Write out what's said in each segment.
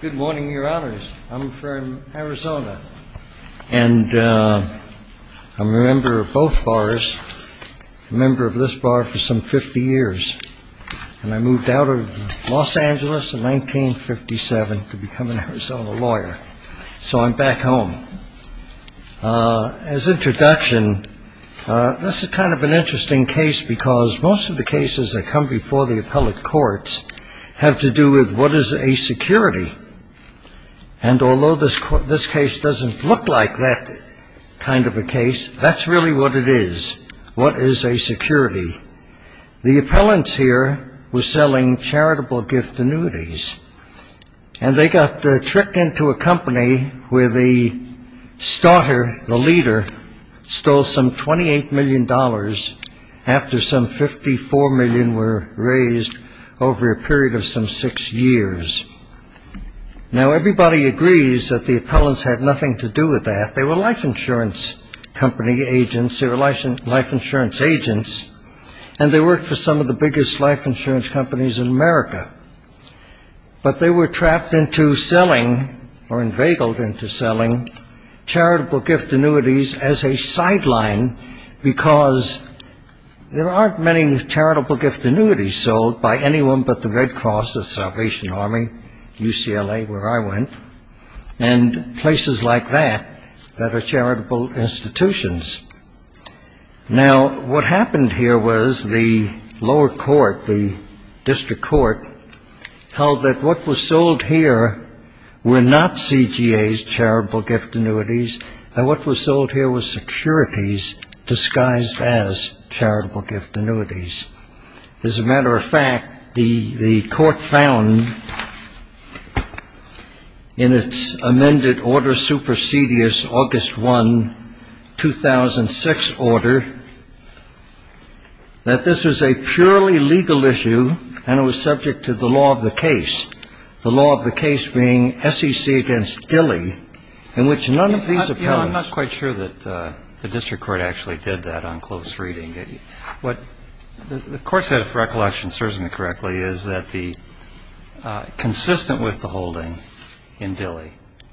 Good morning, your honors. I'm from Arizona, and I'm a member of both bars, a member of this bar for some 50 years, and I moved out of Los Angeles in 1957 to become an Arizona lawyer. So I'm back home. As introduction, this is kind of an interesting case because most of the cases that come before the appellate courts have to do with what is a security, and although this case doesn't look like that kind of a case, that's really what it is, what is a security. The appellants here were selling charitable gift annuities, and they got tricked into a company where the starter, the leader, stole some $28 million after some $54 million were raised over a period of some six years. Now, everybody agrees that the appellants had nothing to do with that. They were life insurance company agents, they were life insurance agents, and they worked for some of the biggest life insurance companies in America. But they were trapped into selling or inveigled into selling charitable gift annuities as a sideline because there aren't many charitable gift annuities sold by anyone but the Red Cross, the Salvation Army, UCLA, where I went, and places like that that are charitable institutions. Now, what happened here was the lower court, the district court, held that what was sold here were not CGA's charitable gift annuities, and what was sold here was securities disguised as charitable gift annuities. As a matter of fact, the court found in its amended order supersedious, August 1, 2006 order, that this was a purely legal issue, and it was subject to the law of the case, the law of the case being SEC against Dilley, in which none of these appellants ---- The court said, if recollection serves me correctly, is that the ---- consistent with the holding in Dilley,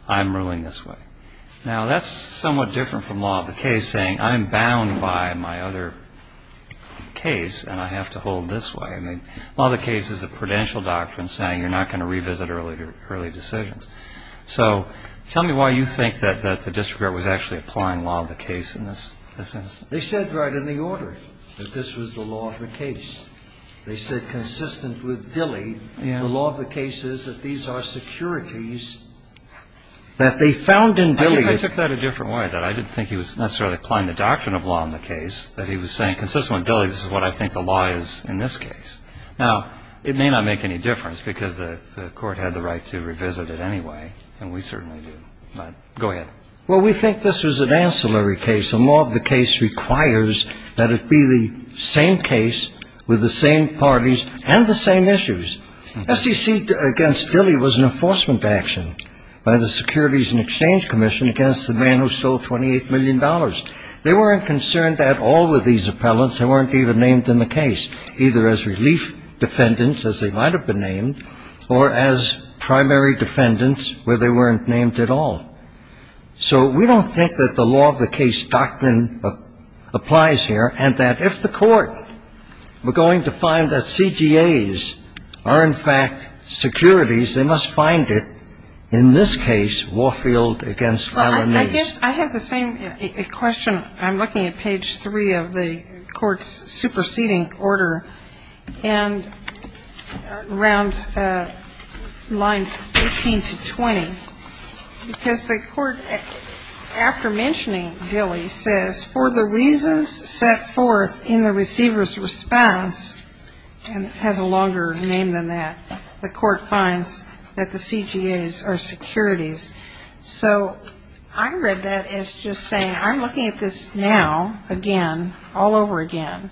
I'm ruling this way. Now, that's somewhat different from law of the case saying I'm bound by my other case and I have to hold this way. I mean, law of the case is a prudential doctrine saying you're not going to revisit early decisions. So, tell me why you think that the district court was actually applying law of the case in this instance. They said right in the order that this was the law of the case. They said consistent with Dilley, the law of the case is that these are securities that they found in Dilley. I guess I took that a different way, that I didn't think he was necessarily applying the doctrine of law in the case, that he was saying consistent with Dilley, this is what I think the law is in this case. Now, it may not make any difference because the court had the right to revisit it anyway, and we certainly did. But go ahead. Well, we think this was an ancillary case, and law of the case requires that it be the same case with the same parties and the same issues. SEC against Dilley was an enforcement action by the Securities and Exchange Commission against the man who stole $28 million. They weren't concerned at all with these appellants. They weren't even named in the case, either as relief defendants, as they might have been named, or as primary defendants where they weren't named at all. So we don't think that the law of the case doctrine applies here, and that if the court were going to find that CGAs are, in fact, securities, they must find it, in this case, Warfield against Alanace. I have the same question. I'm looking at page 3 of the court's superseding order, and around lines 18 to 20, because the court, after mentioning Dilley, says, for the reasons set forth in the receiver's response, and has a longer name than that, the court finds that the CGAs are securities. So I read that as just saying, I'm looking at this now, again, all over again,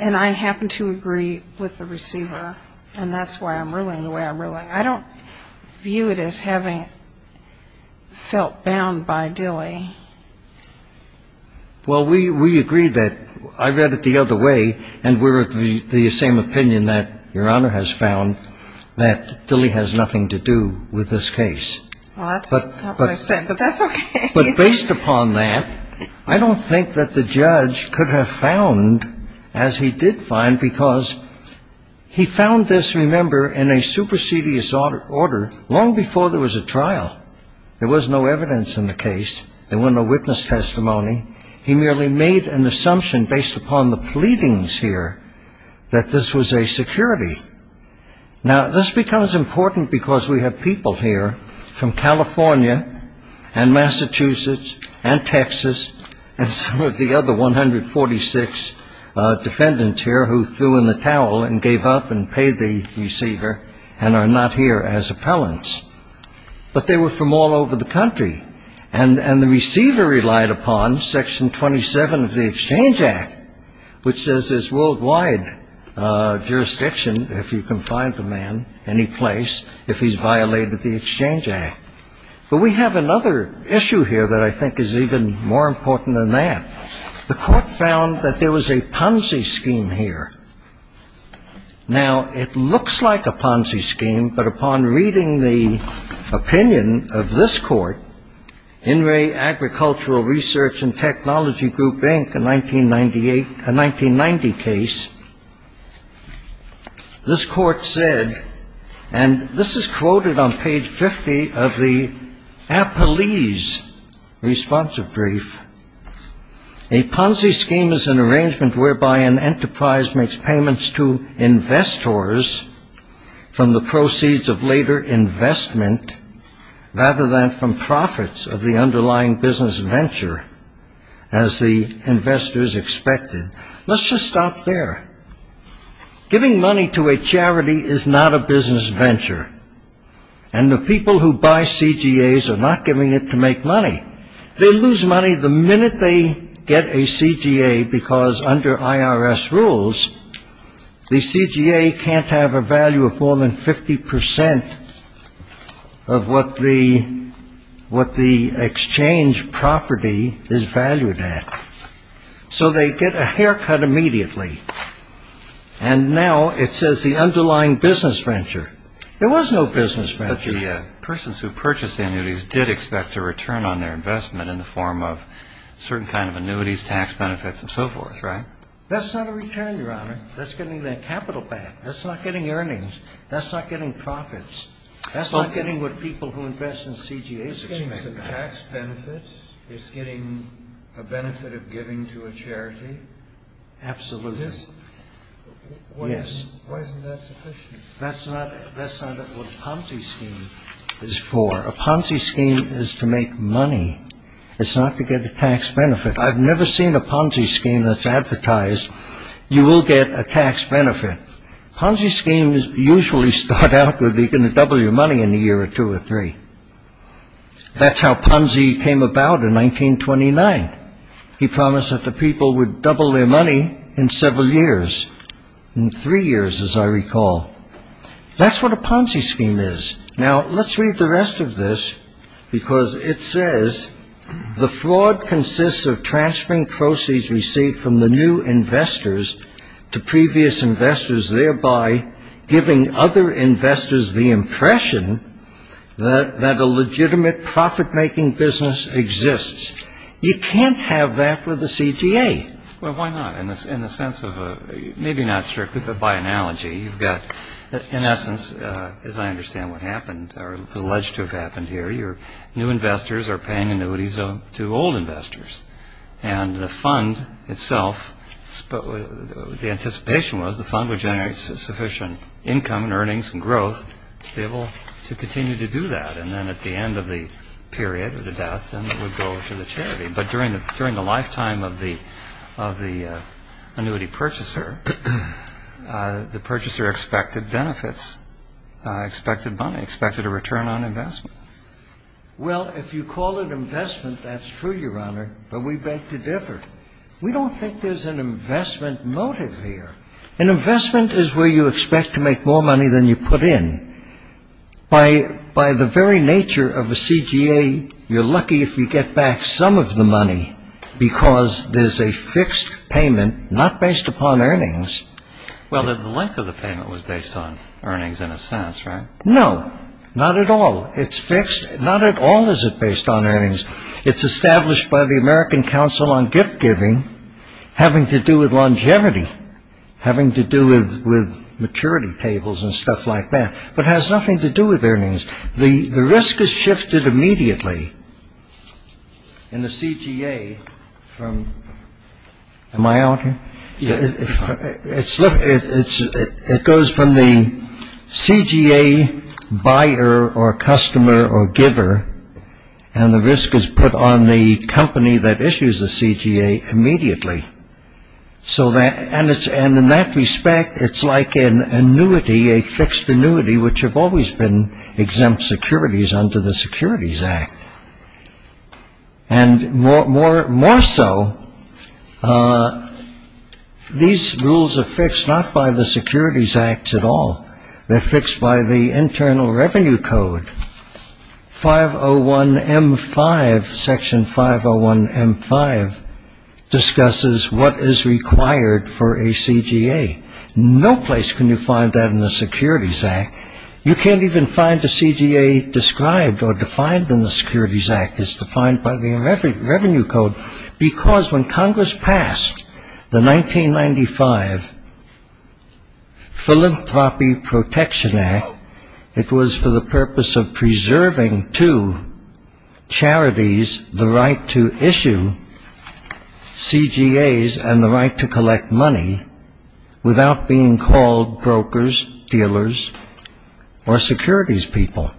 and I happen to agree with the receiver, and that's why I'm ruling the way I'm ruling. I don't view it as having felt bound by Dilley. Well, we agree that I read it the other way, and we're of the same opinion that Your Honor has found, that Dilley has nothing to do with this case. Well, that's not what I said, but that's okay. But based upon that, I don't think that the judge could have found as he did find, because he found this, remember, in a supersedious order long before there was a trial. There was no evidence in the case. There were no witness testimony. He merely made an assumption based upon the pleadings here that this was a security. Now, this becomes important because we have people here from California and Massachusetts and Texas and some of the other 146 defendants here who threw in the towel and gave up and paid the receiver and are not here as appellants. But they were from all over the country. And the receiver relied upon Section 27 of the Exchange Act, which says there's worldwide jurisdiction, if you can find the man, any place, if he's violated the Exchange Act. But we have another issue here that I think is even more important than that. The court found that there was a Ponzi scheme here. Now, it looks like a Ponzi scheme, but upon reading the opinion of this court, In re Agricultural Research and Technology Group, Inc., a 1998, a 1990 case, this court said, and this is quoted on page 50 of the Appellee's responsive brief. A Ponzi scheme is an arrangement whereby an enterprise makes payments to investors from the proceeds of later investment rather than from profits of the underlying business venture, as the investors expected. Let's just stop there. Giving money to a charity is not a business venture. And the people who buy CGAs are not giving it to make money. They lose money the minute they get a CGA, because under IRS rules, the CGA can't have a value of more than 50% of what the exchange property is valued at. So they get a haircut immediately. And now it says the underlying business venture. There was no business venture. But the persons who purchased the annuities did expect a return on their investment in the form of certain kind of annuities, tax benefits, and so forth, right? That's not a return, Your Honor. That's getting their capital back. That's not getting earnings. That's not getting profits. That's not getting what people who invest in CGAs expect. It's getting some tax benefits. It's getting a benefit of giving to a charity. Absolutely. Why isn't that sufficient? That's not what a Ponzi scheme is for. A Ponzi scheme is to make money. It's not to get a tax benefit. I've never seen a Ponzi scheme that's advertised, you will get a tax benefit. Ponzi schemes usually start out with, you're going to double your money in a year or two or three. That's how Ponzi came about in 1929. He promised that the people would double their money in several years. In three years, as I recall. That's what a Ponzi scheme is. Now, let's read the rest of this, because it says, The fraud consists of transferring proceeds received from the new investors to previous investors, thereby giving other investors the impression that a legitimate profit-making business exists. You can't have that with a CGA. Well, why not? In the sense of, maybe not strictly, but by analogy, you've got, in essence, as I understand what happened, or alleged to have happened here, your new investors are paying annuities to old investors. And the fund itself, the anticipation was the fund would generate sufficient income and earnings and growth to be able to continue to do that. And then at the end of the period of the death, then it would go to the charity. But during the lifetime of the annuity purchaser, the purchaser expected benefits, expected money, expected a return on investment. Well, if you call it investment, that's true, Your Honor, but we beg to differ. We don't think there's an investment motive here. An investment is where you expect to make more money than you put in. By the very nature of a CGA, you're lucky if you get back some of the money, because there's a fixed payment not based upon earnings. Well, the length of the payment was based on earnings in a sense, right? No, not at all. It's fixed. Not at all is it based on earnings. It's established by the American Council on Gift Giving having to do with longevity, having to do with maturity tables and stuff like that. But it has nothing to do with earnings. The risk is shifted immediately in the CGA from, am I out here? Yes. It goes from the CGA buyer or customer or giver, and the risk is put on the company that issues the CGA immediately. And in that respect, it's like an annuity, a fixed annuity, which have always been exempt securities under the Securities Act. And more so, these rules are fixed not by the Securities Act at all. They're fixed by the Internal Revenue Code. Section 501M5 discusses what is required for a CGA. No place can you find that in the Securities Act. You can't even find the CGA described or defined in the Securities Act. It's defined by the Revenue Code, because when Congress passed the 1995 Philanthropy Protection Act, it was for the purpose of preserving to charities the right to issue CGAs and the right to collect money without being called brokers, dealers, or securities people.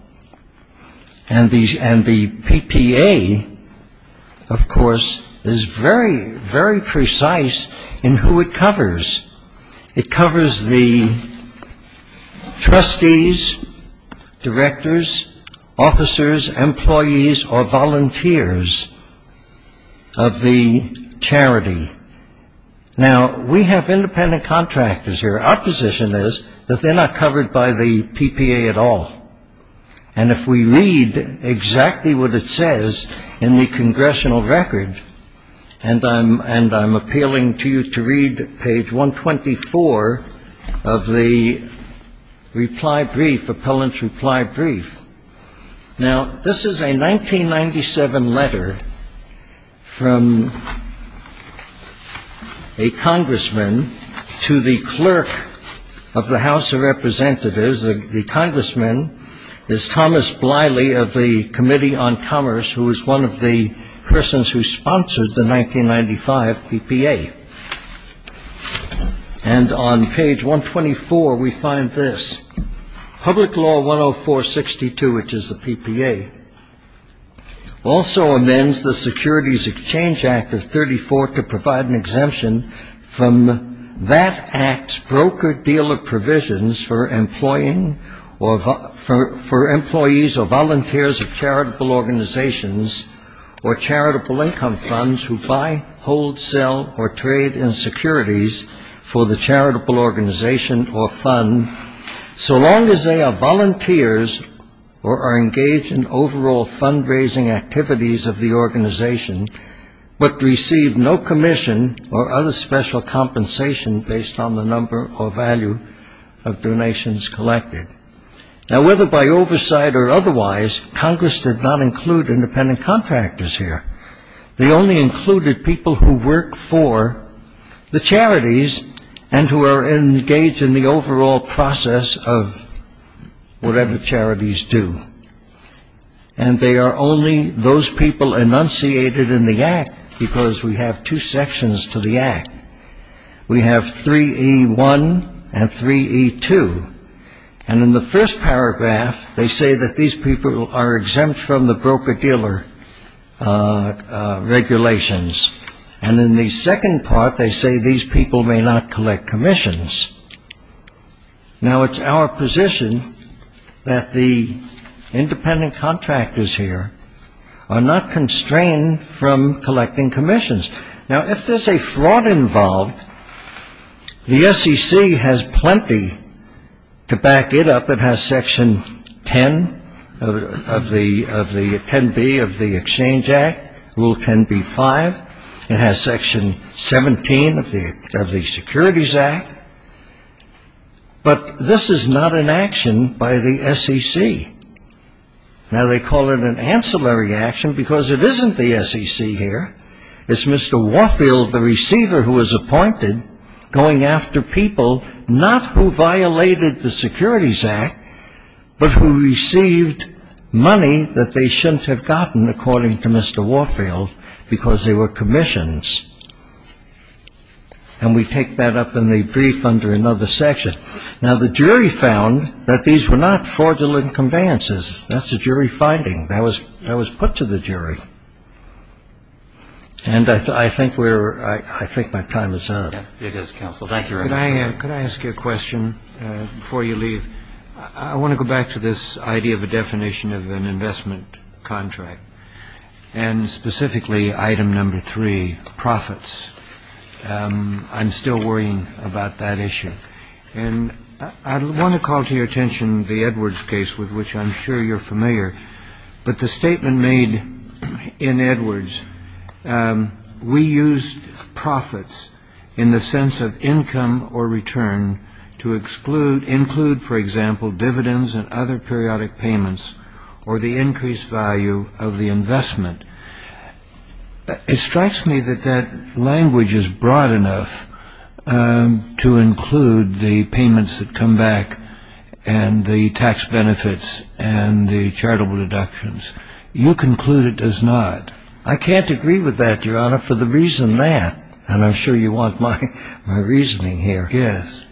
And the PPA, of course, is very, very precise in who it covers. It covers the trustees, directors, officers, employees, or volunteers of the charity. Now, we have independent contractors here. Our position is that they're not covered by the PPA at all. And if we read exactly what it says in the congressional record, and I'm appealing to you to read page 124 of the reply brief, appellant's reply brief. Now, this is a 1997 letter from a congressman to the clerk of the House of Representatives. The congressman is Thomas Bliley of the Committee on Commerce, who was one of the persons who sponsored the 1995 PPA. And on page 124, we find this. Public Law 10462, which is the PPA, also amends the Securities Exchange Act of 34 to provide an exemption from that act's broker-dealer provisions for employees or volunteers of charitable organizations or charitable income funds who buy, hold, sell, or trade in securities for the charitable organization or fund, so long as they are volunteers or are engaged in overall fundraising activities of the organization, but receive no commission or other special compensation based on the number or value of donations collected. Now, whether by oversight or otherwise, Congress did not include independent contractors here. They only included people who work for the charities and who are engaged in the overall process of whatever charities do. And they are only those people enunciated in the act, because we have two sections to the act. We have 3E1 and 3E2. And in the first paragraph, they say that these people are exempt from the broker-dealer regulations. And in the second part, they say these people may not collect commissions. Now, it's our position that the independent contractors here are not constrained from collecting commissions. Now, if there's a fraud involved, the SEC has plenty to back it up. It has Section 10B of the Exchange Act, Rule 10B-5. It has Section 17 of the Securities Act. But this is not an action by the SEC. Now, they call it an ancillary action, because it isn't the SEC here. It's Mr. Warfield, the receiver who was appointed, going after people not who violated the Securities Act, but who received money that they shouldn't have gotten, according to Mr. Warfield, because they were commissions. And we take that up in the brief under another section. Now, the jury found that these were not fraudulent conveyances. That's a jury finding. That was put to the jury. And I think we're ‑‑ I think my time is up. It is, counsel. Thank you very much. Could I ask you a question before you leave? I want to go back to this idea of a definition of an investment contract and specifically item number three, profits. I'm still worrying about that issue. And I want to call to your attention the Edwards case, with which I'm sure you're familiar. But the statement made in Edwards, we used profits in the sense of income or return to include, for example, dividends and other periodic payments or the increased value of the investment. It strikes me that that language is broad enough to include the payments that come back and the tax benefits and the charitable deductions. You conclude it does not. I can't agree with that, Your Honor, for the reason that, and I'm sure you want my reasoning here. Yes.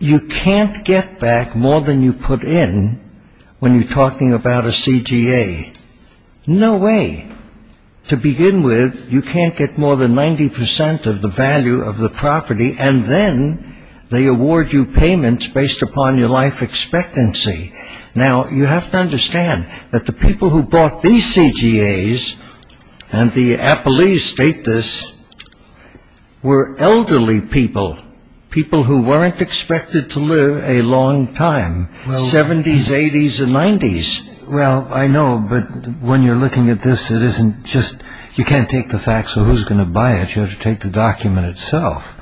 You can't get back more than you put in when you're talking about a CGA. No way. To begin with, you can't get more than 90% of the value of the property and then they award you payments based upon your life expectancy. Now, you have to understand that the people who bought these CGAs, and the appellees state this, were elderly people, people who weren't expected to live a long time, 70s, 80s and 90s. Well, I know, but when you're looking at this, it isn't just, you can't take the facts of who's going to buy it. You have to take the document itself.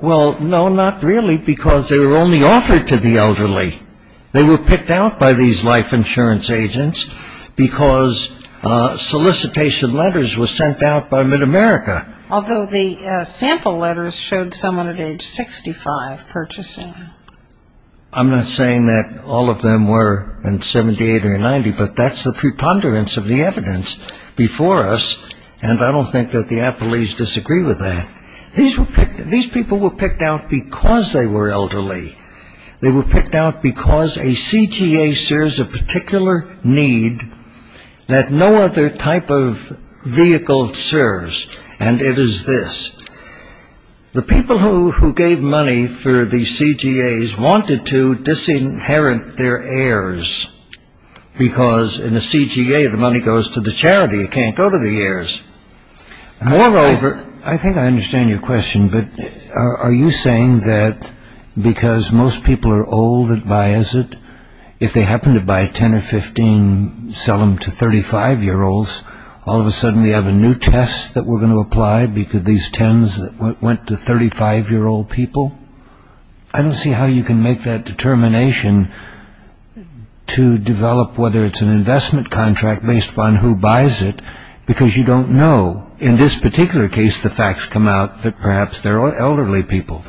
Well, no, not really, because they were only offered to the elderly. They were picked out by these life insurance agents because solicitation letters were sent out by MidAmerica. Although the sample letters showed someone at age 65 purchasing. I'm not saying that all of them were in 78 or 90, but that's the preponderance of the evidence before us, and I don't think that the appellees disagree with that. These people were picked out because they were elderly. They were picked out because a CGA serves a particular need that no other type of vehicle serves, and it is this. The people who gave money for these CGAs wanted to disinherit their heirs, because in a CGA the money goes to the charity, it can't go to the heirs. Moreover, I think I understand your question, but are you saying that because most people are old that buys it, if they happen to buy 10 or 15, sell them to 35-year-olds, all of a sudden we have a new test that we're going to apply because these 10s went to 35-year-old people? I don't see how you can make that determination to develop whether it's an investment contract based on who buys it, because you don't know. In this particular case, the facts come out that perhaps they're elderly people,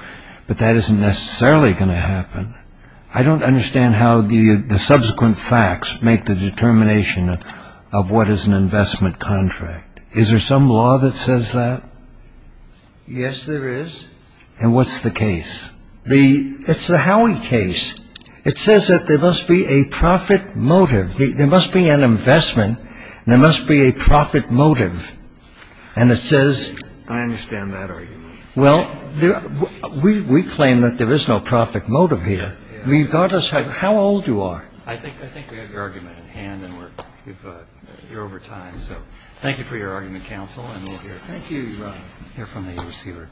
but that isn't necessarily going to happen. I don't understand how the subsequent facts make the determination of what is an investment contract. Is there some law that says that? Yes, there is. And what's the case? It's the Howey case. It says that there must be a profit motive. There must be an investment. There must be a profit motive. And it says- I understand that argument. Well, we claim that there is no profit motive here, regardless of how old you are. I think we have your argument at hand, and we're over time. So thank you for your argument, counsel, and we'll hear from the receiver.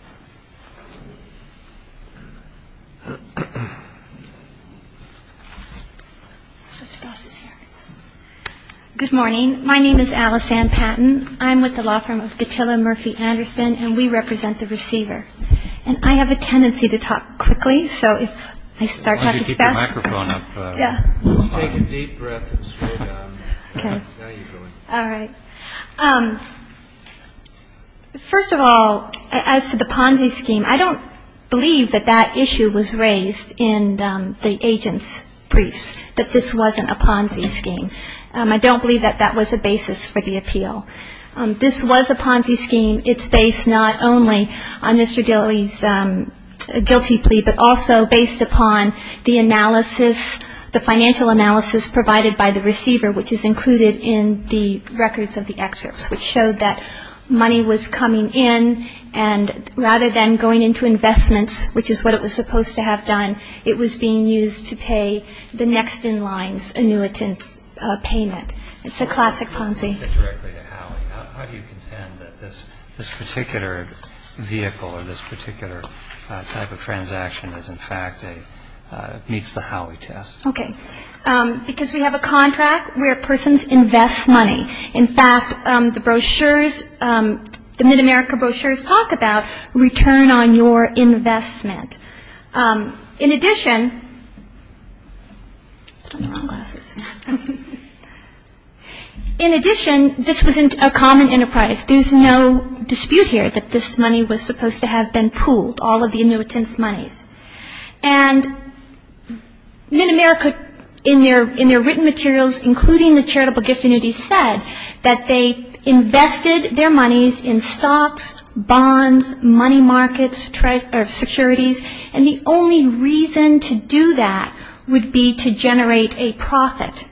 Good morning. My name is Alice Ann Patton. I'm with the law firm of Gatilla Murphy Anderson, and we represent the receiver. And I have a tendency to talk quickly, so if I start talking fast- Why don't you keep your microphone up? Let's take a deep breath and slow down. Okay. All right. First of all, as to the Ponzi scheme, I don't believe that that issue was raised in the agent's briefs, that this wasn't a Ponzi scheme. I don't believe that that was a basis for the appeal. This was a Ponzi scheme. It's based not only on Mr. Dilley's guilty plea, but also based upon the analysis, the financial analysis provided by the receiver, which is included in the records of the excerpts, which showed that money was coming in, and rather than going into investments, which is what it was supposed to have done, it was being used to pay the next in line's annuitant's payment. It's a classic Ponzi. How do you contend that this particular vehicle or this particular type of transaction is, in fact, meets the Howey test? Okay. Because we have a contract where persons invest money. In fact, the brochures, the Mid-America brochures talk about return on your investment. In addition, this was a common enterprise. There's no dispute here that this money was supposed to have been pooled, all of the annuitant's monies. And Mid-America, in their written materials, including the charitable gift annuities, that they invested their monies in stocks, bonds, money markets, securities, and the only reason to do that would be to generate a profit.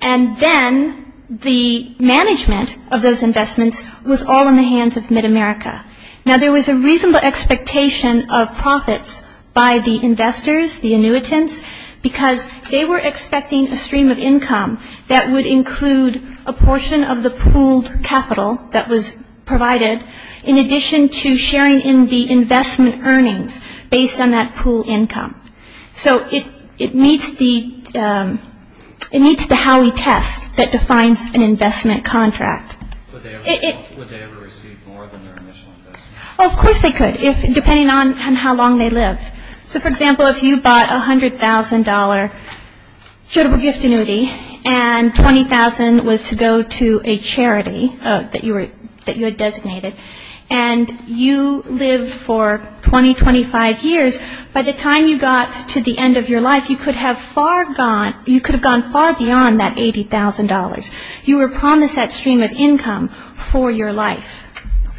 And then the management of those investments was all in the hands of Mid-America. Now, there was a reasonable expectation of profits by the investors, the annuitants, because they were expecting a stream of income that would include a portion of the pooled capital that was provided, in addition to sharing in the investment earnings based on that pooled income. So it meets the Howey test that defines an investment contract. Would they ever receive more than their initial investment? Oh, of course they could, depending on how long they lived. So, for example, if you bought a $100,000 charitable gift annuity, and $20,000 was to go to a charity that you had designated, and you lived for 20, 25 years, by the time you got to the end of your life, you could have gone far beyond that $80,000. You were promised that stream of income for your life.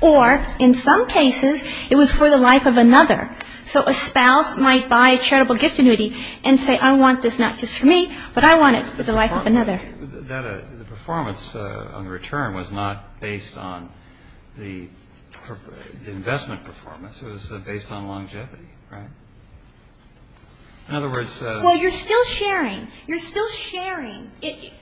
Or, in some cases, it was for the life of another. So a spouse might buy a charitable gift annuity and say, I want this not just for me, but I want it for the life of another. The performance on the return was not based on the investment performance. It was based on longevity, right? Well, you're still sharing. You're still sharing.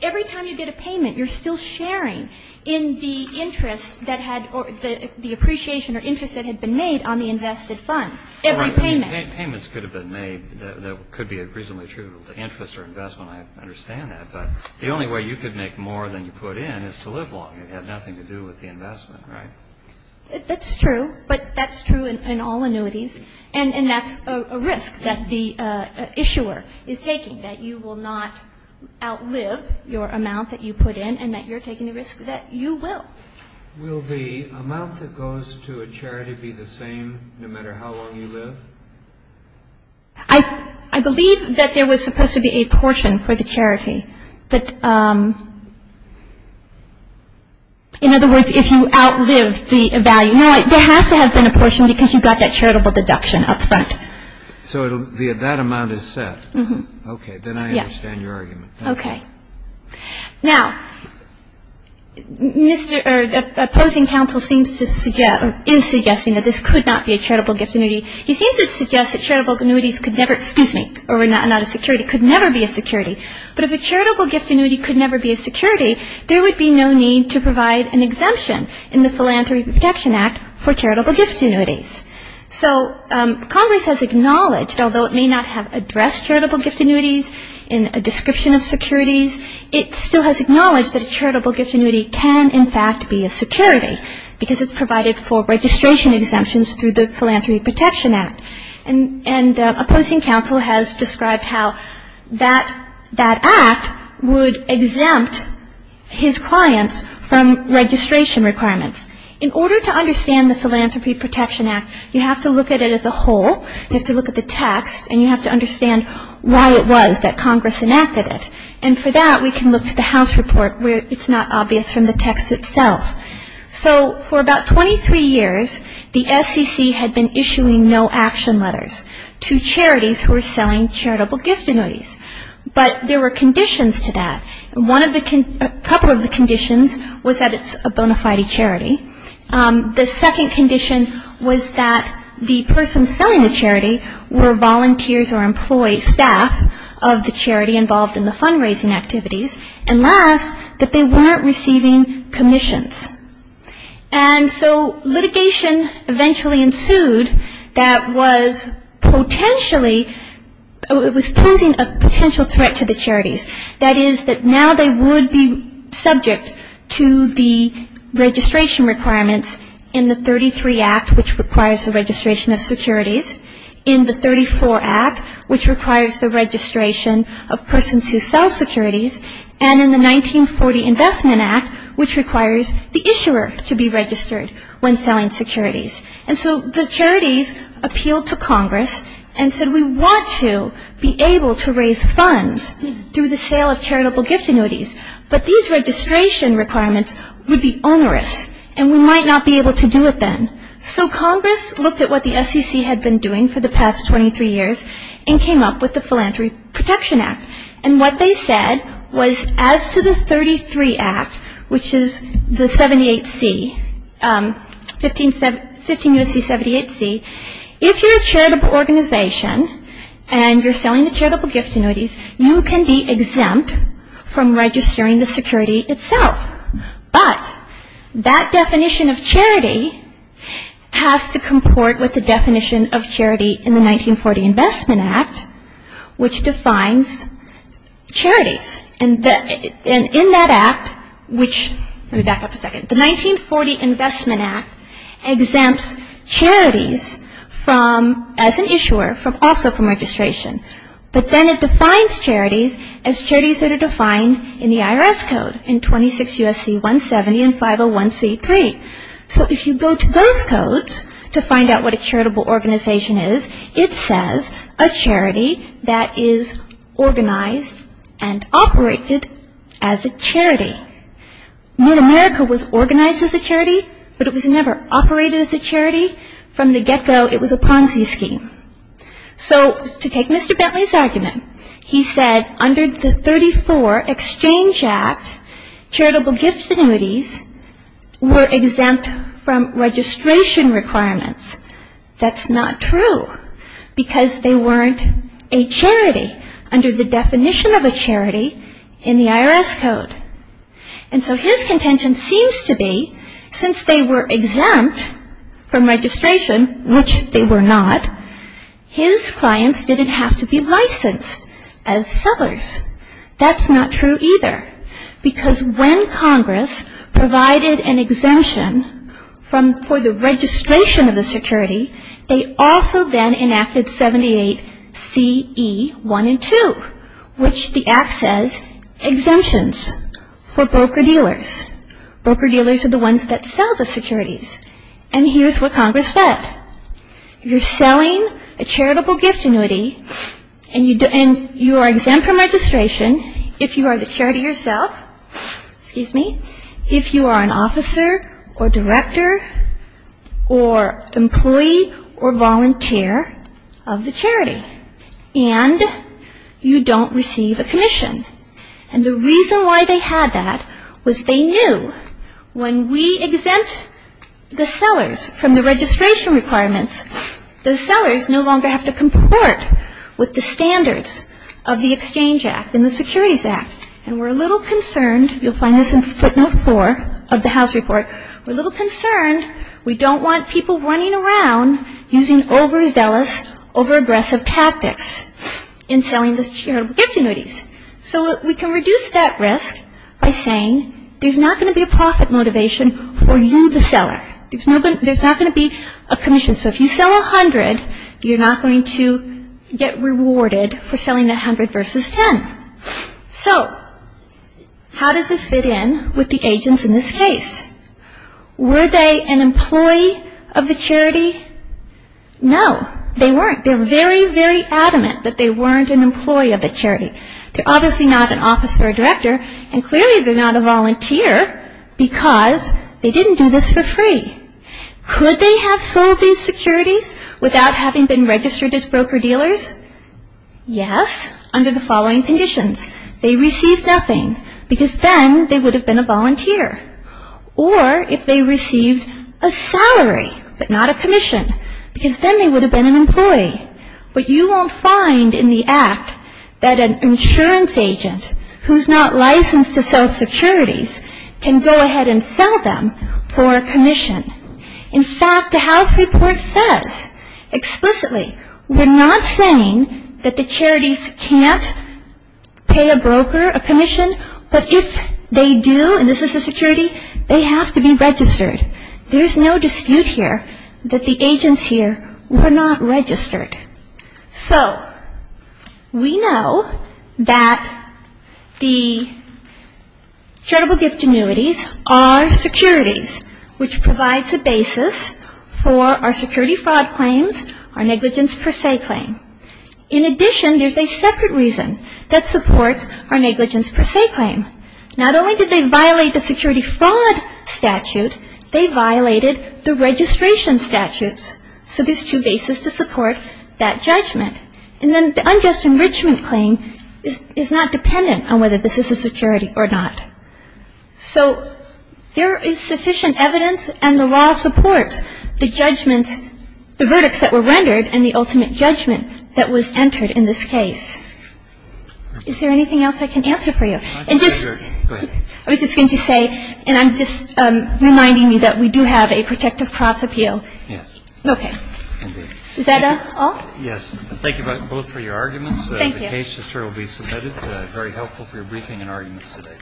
Every time you get a payment, you're still sharing in the interest that had or the appreciation or interest that had been made on the invested funds, every payment. Payments could have been made that could be reasonably attributable to interest or investment. I understand that. But the only way you could make more than you put in is to live longer. It had nothing to do with the investment, right? That's true. But that's true in all annuities. And that's a risk that the issuer is taking, that you will not outlive your amount that you put in and that you're taking the risk that you will. Will the amount that goes to a charity be the same no matter how long you live? I believe that there was supposed to be a portion for the charity. But, in other words, if you outlive the value, there has to have been a portion because you've got that charitable deduction up front. So that amount is set? Yes. Okay. Then I understand your argument. Okay. Now, Mr. or the opposing counsel seems to suggest or is suggesting that this could not be a charitable gift annuity. He seems to suggest that charitable annuities could never excuse me, or were not a security, could never be a security. But if a charitable gift annuity could never be a security, there would be no need to provide an exemption in the Philanthropy Protection Act for charitable gift annuities. So Congress has acknowledged, although it may not have addressed charitable gift annuities in a description of securities, it still has acknowledged that a charitable gift annuity can, in fact, be a security because it's provided for registration exemptions through the Philanthropy Protection Act. And opposing counsel has described how that act would exempt his clients from registration requirements. In order to understand the Philanthropy Protection Act, you have to look at it as a whole. You have to look at the text, and you have to understand why it was that Congress enacted it. And for that, we can look to the House report where it's not obvious from the text itself. So for about 23 years, the SEC had been issuing no-action letters to charities who were selling charitable gift annuities. But there were conditions to that. A couple of the conditions was that it's a bona fide charity. The second condition was that the person selling the charity were volunteers or employees, staff of the charity involved in the fundraising activities. And last, that they weren't receiving commissions. And so litigation eventually ensued that was potentially, it was posing a potential threat to the charities. That is that now they would be subject to the registration requirements in the 33 Act, which requires the registration of securities, in the 34 Act, which requires the registration of persons who sell securities, and in the 1940 Investment Act, which requires the issuer to be registered when selling securities. And so the charities appealed to Congress and said, we want to be able to raise funds through the sale of charitable gift annuities, but these registration requirements would be onerous, and we might not be able to do it then. So Congress looked at what the SEC had been doing for the past 23 years and came up with the Philanthropy Protection Act. And what they said was as to the 33 Act, which is the 78C, 15 U.S.C. 78C, if you're a charitable organization and you're selling the charitable gift annuities, you can be exempt from registering the security itself. But that definition of charity has to comport with the definition of charity in the 1940 Investment Act, which defines charities. And in that Act, which, let me back up a second, the 1940 Investment Act exempts charities from, as an issuer, also from registration. But then it defines charities as charities that are defined in the IRS Code in 26 U.S.C. 170 and 501C3. So if you go to those codes to find out what a charitable organization is, it says a charity that is organized and operated as a charity. North America was organized as a charity, but it was never operated as a charity. From the get-go, it was a Ponzi scheme. So to take Mr. Bentley's argument, he said under the 34 Exchange Act, charitable gift annuities were exempt from registration requirements. That's not true, because they weren't a charity under the definition of a charity in the IRS Code. And so his contention seems to be since they were exempt from registration, which they were not, his clients didn't have to be licensed as sellers. That's not true either, because when Congress provided an exemption for the registration of the security, they also then enacted 78CE1 and 2, which the Act says exemptions for broker-dealers. Broker-dealers are the ones that sell the securities. And here's what Congress said. You're selling a charitable gift annuity, and you are exempt from registration if you are the charity yourself, if you are an officer or director or employee or volunteer of the charity, and you don't receive a commission. And the reason why they had that was they knew when we exempt the sellers from the registration requirements, the sellers no longer have to comport with the standards of the Exchange Act and the Securities Act, and we're a little concerned. You'll find this in footnote 4 of the House report. We're a little concerned. We don't want people running around using overzealous, overaggressive tactics in selling the charitable gift annuities. So we can reduce that risk by saying there's not going to be a profit motivation for you, the seller. There's not going to be a commission. So if you sell 100, you're not going to get rewarded for selling 100 versus 10. So how does this fit in with the agents in this case? Were they an employee of the charity? No, they weren't. They're very, very adamant that they weren't an employee of the charity. They're obviously not an officer or director, and clearly they're not a volunteer because they didn't do this for free. Could they have sold these securities without having been registered as broker-dealers? Yes, under the following conditions. They received nothing because then they would have been a volunteer, or if they received a salary but not a commission because then they would have been an employee. But you won't find in the Act that an insurance agent who's not licensed to sell securities can go ahead and sell them for a commission. In fact, the House report says explicitly we're not saying that the charities can't pay a broker a commission, but if they do, and this is a security, they have to be registered. There's no dispute here that the agents here were not registered. So we know that the charitable gift annuities are securities, which provides a basis for our security fraud claims, our negligence per se claim. In addition, there's a separate reason that supports our negligence per se claim. Not only did they violate the security fraud statute, they violated the registration statutes. So there's two bases to support that judgment. And then the unjust enrichment claim is not dependent on whether this is a security or not. So there is sufficient evidence, and the law supports the judgments, the verdicts that were rendered and the ultimate judgment that was entered in this case. Is there anything else I can answer for you? I was just going to say, and I'm just reminding you that we do have a protective cross appeal. Yes. Okay. Is that all? Yes. Thank you both for your arguments. Thank you. The case history will be submitted. It's very helpful for your briefing and arguments today.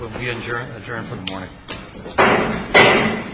We'll be adjourned for the morning.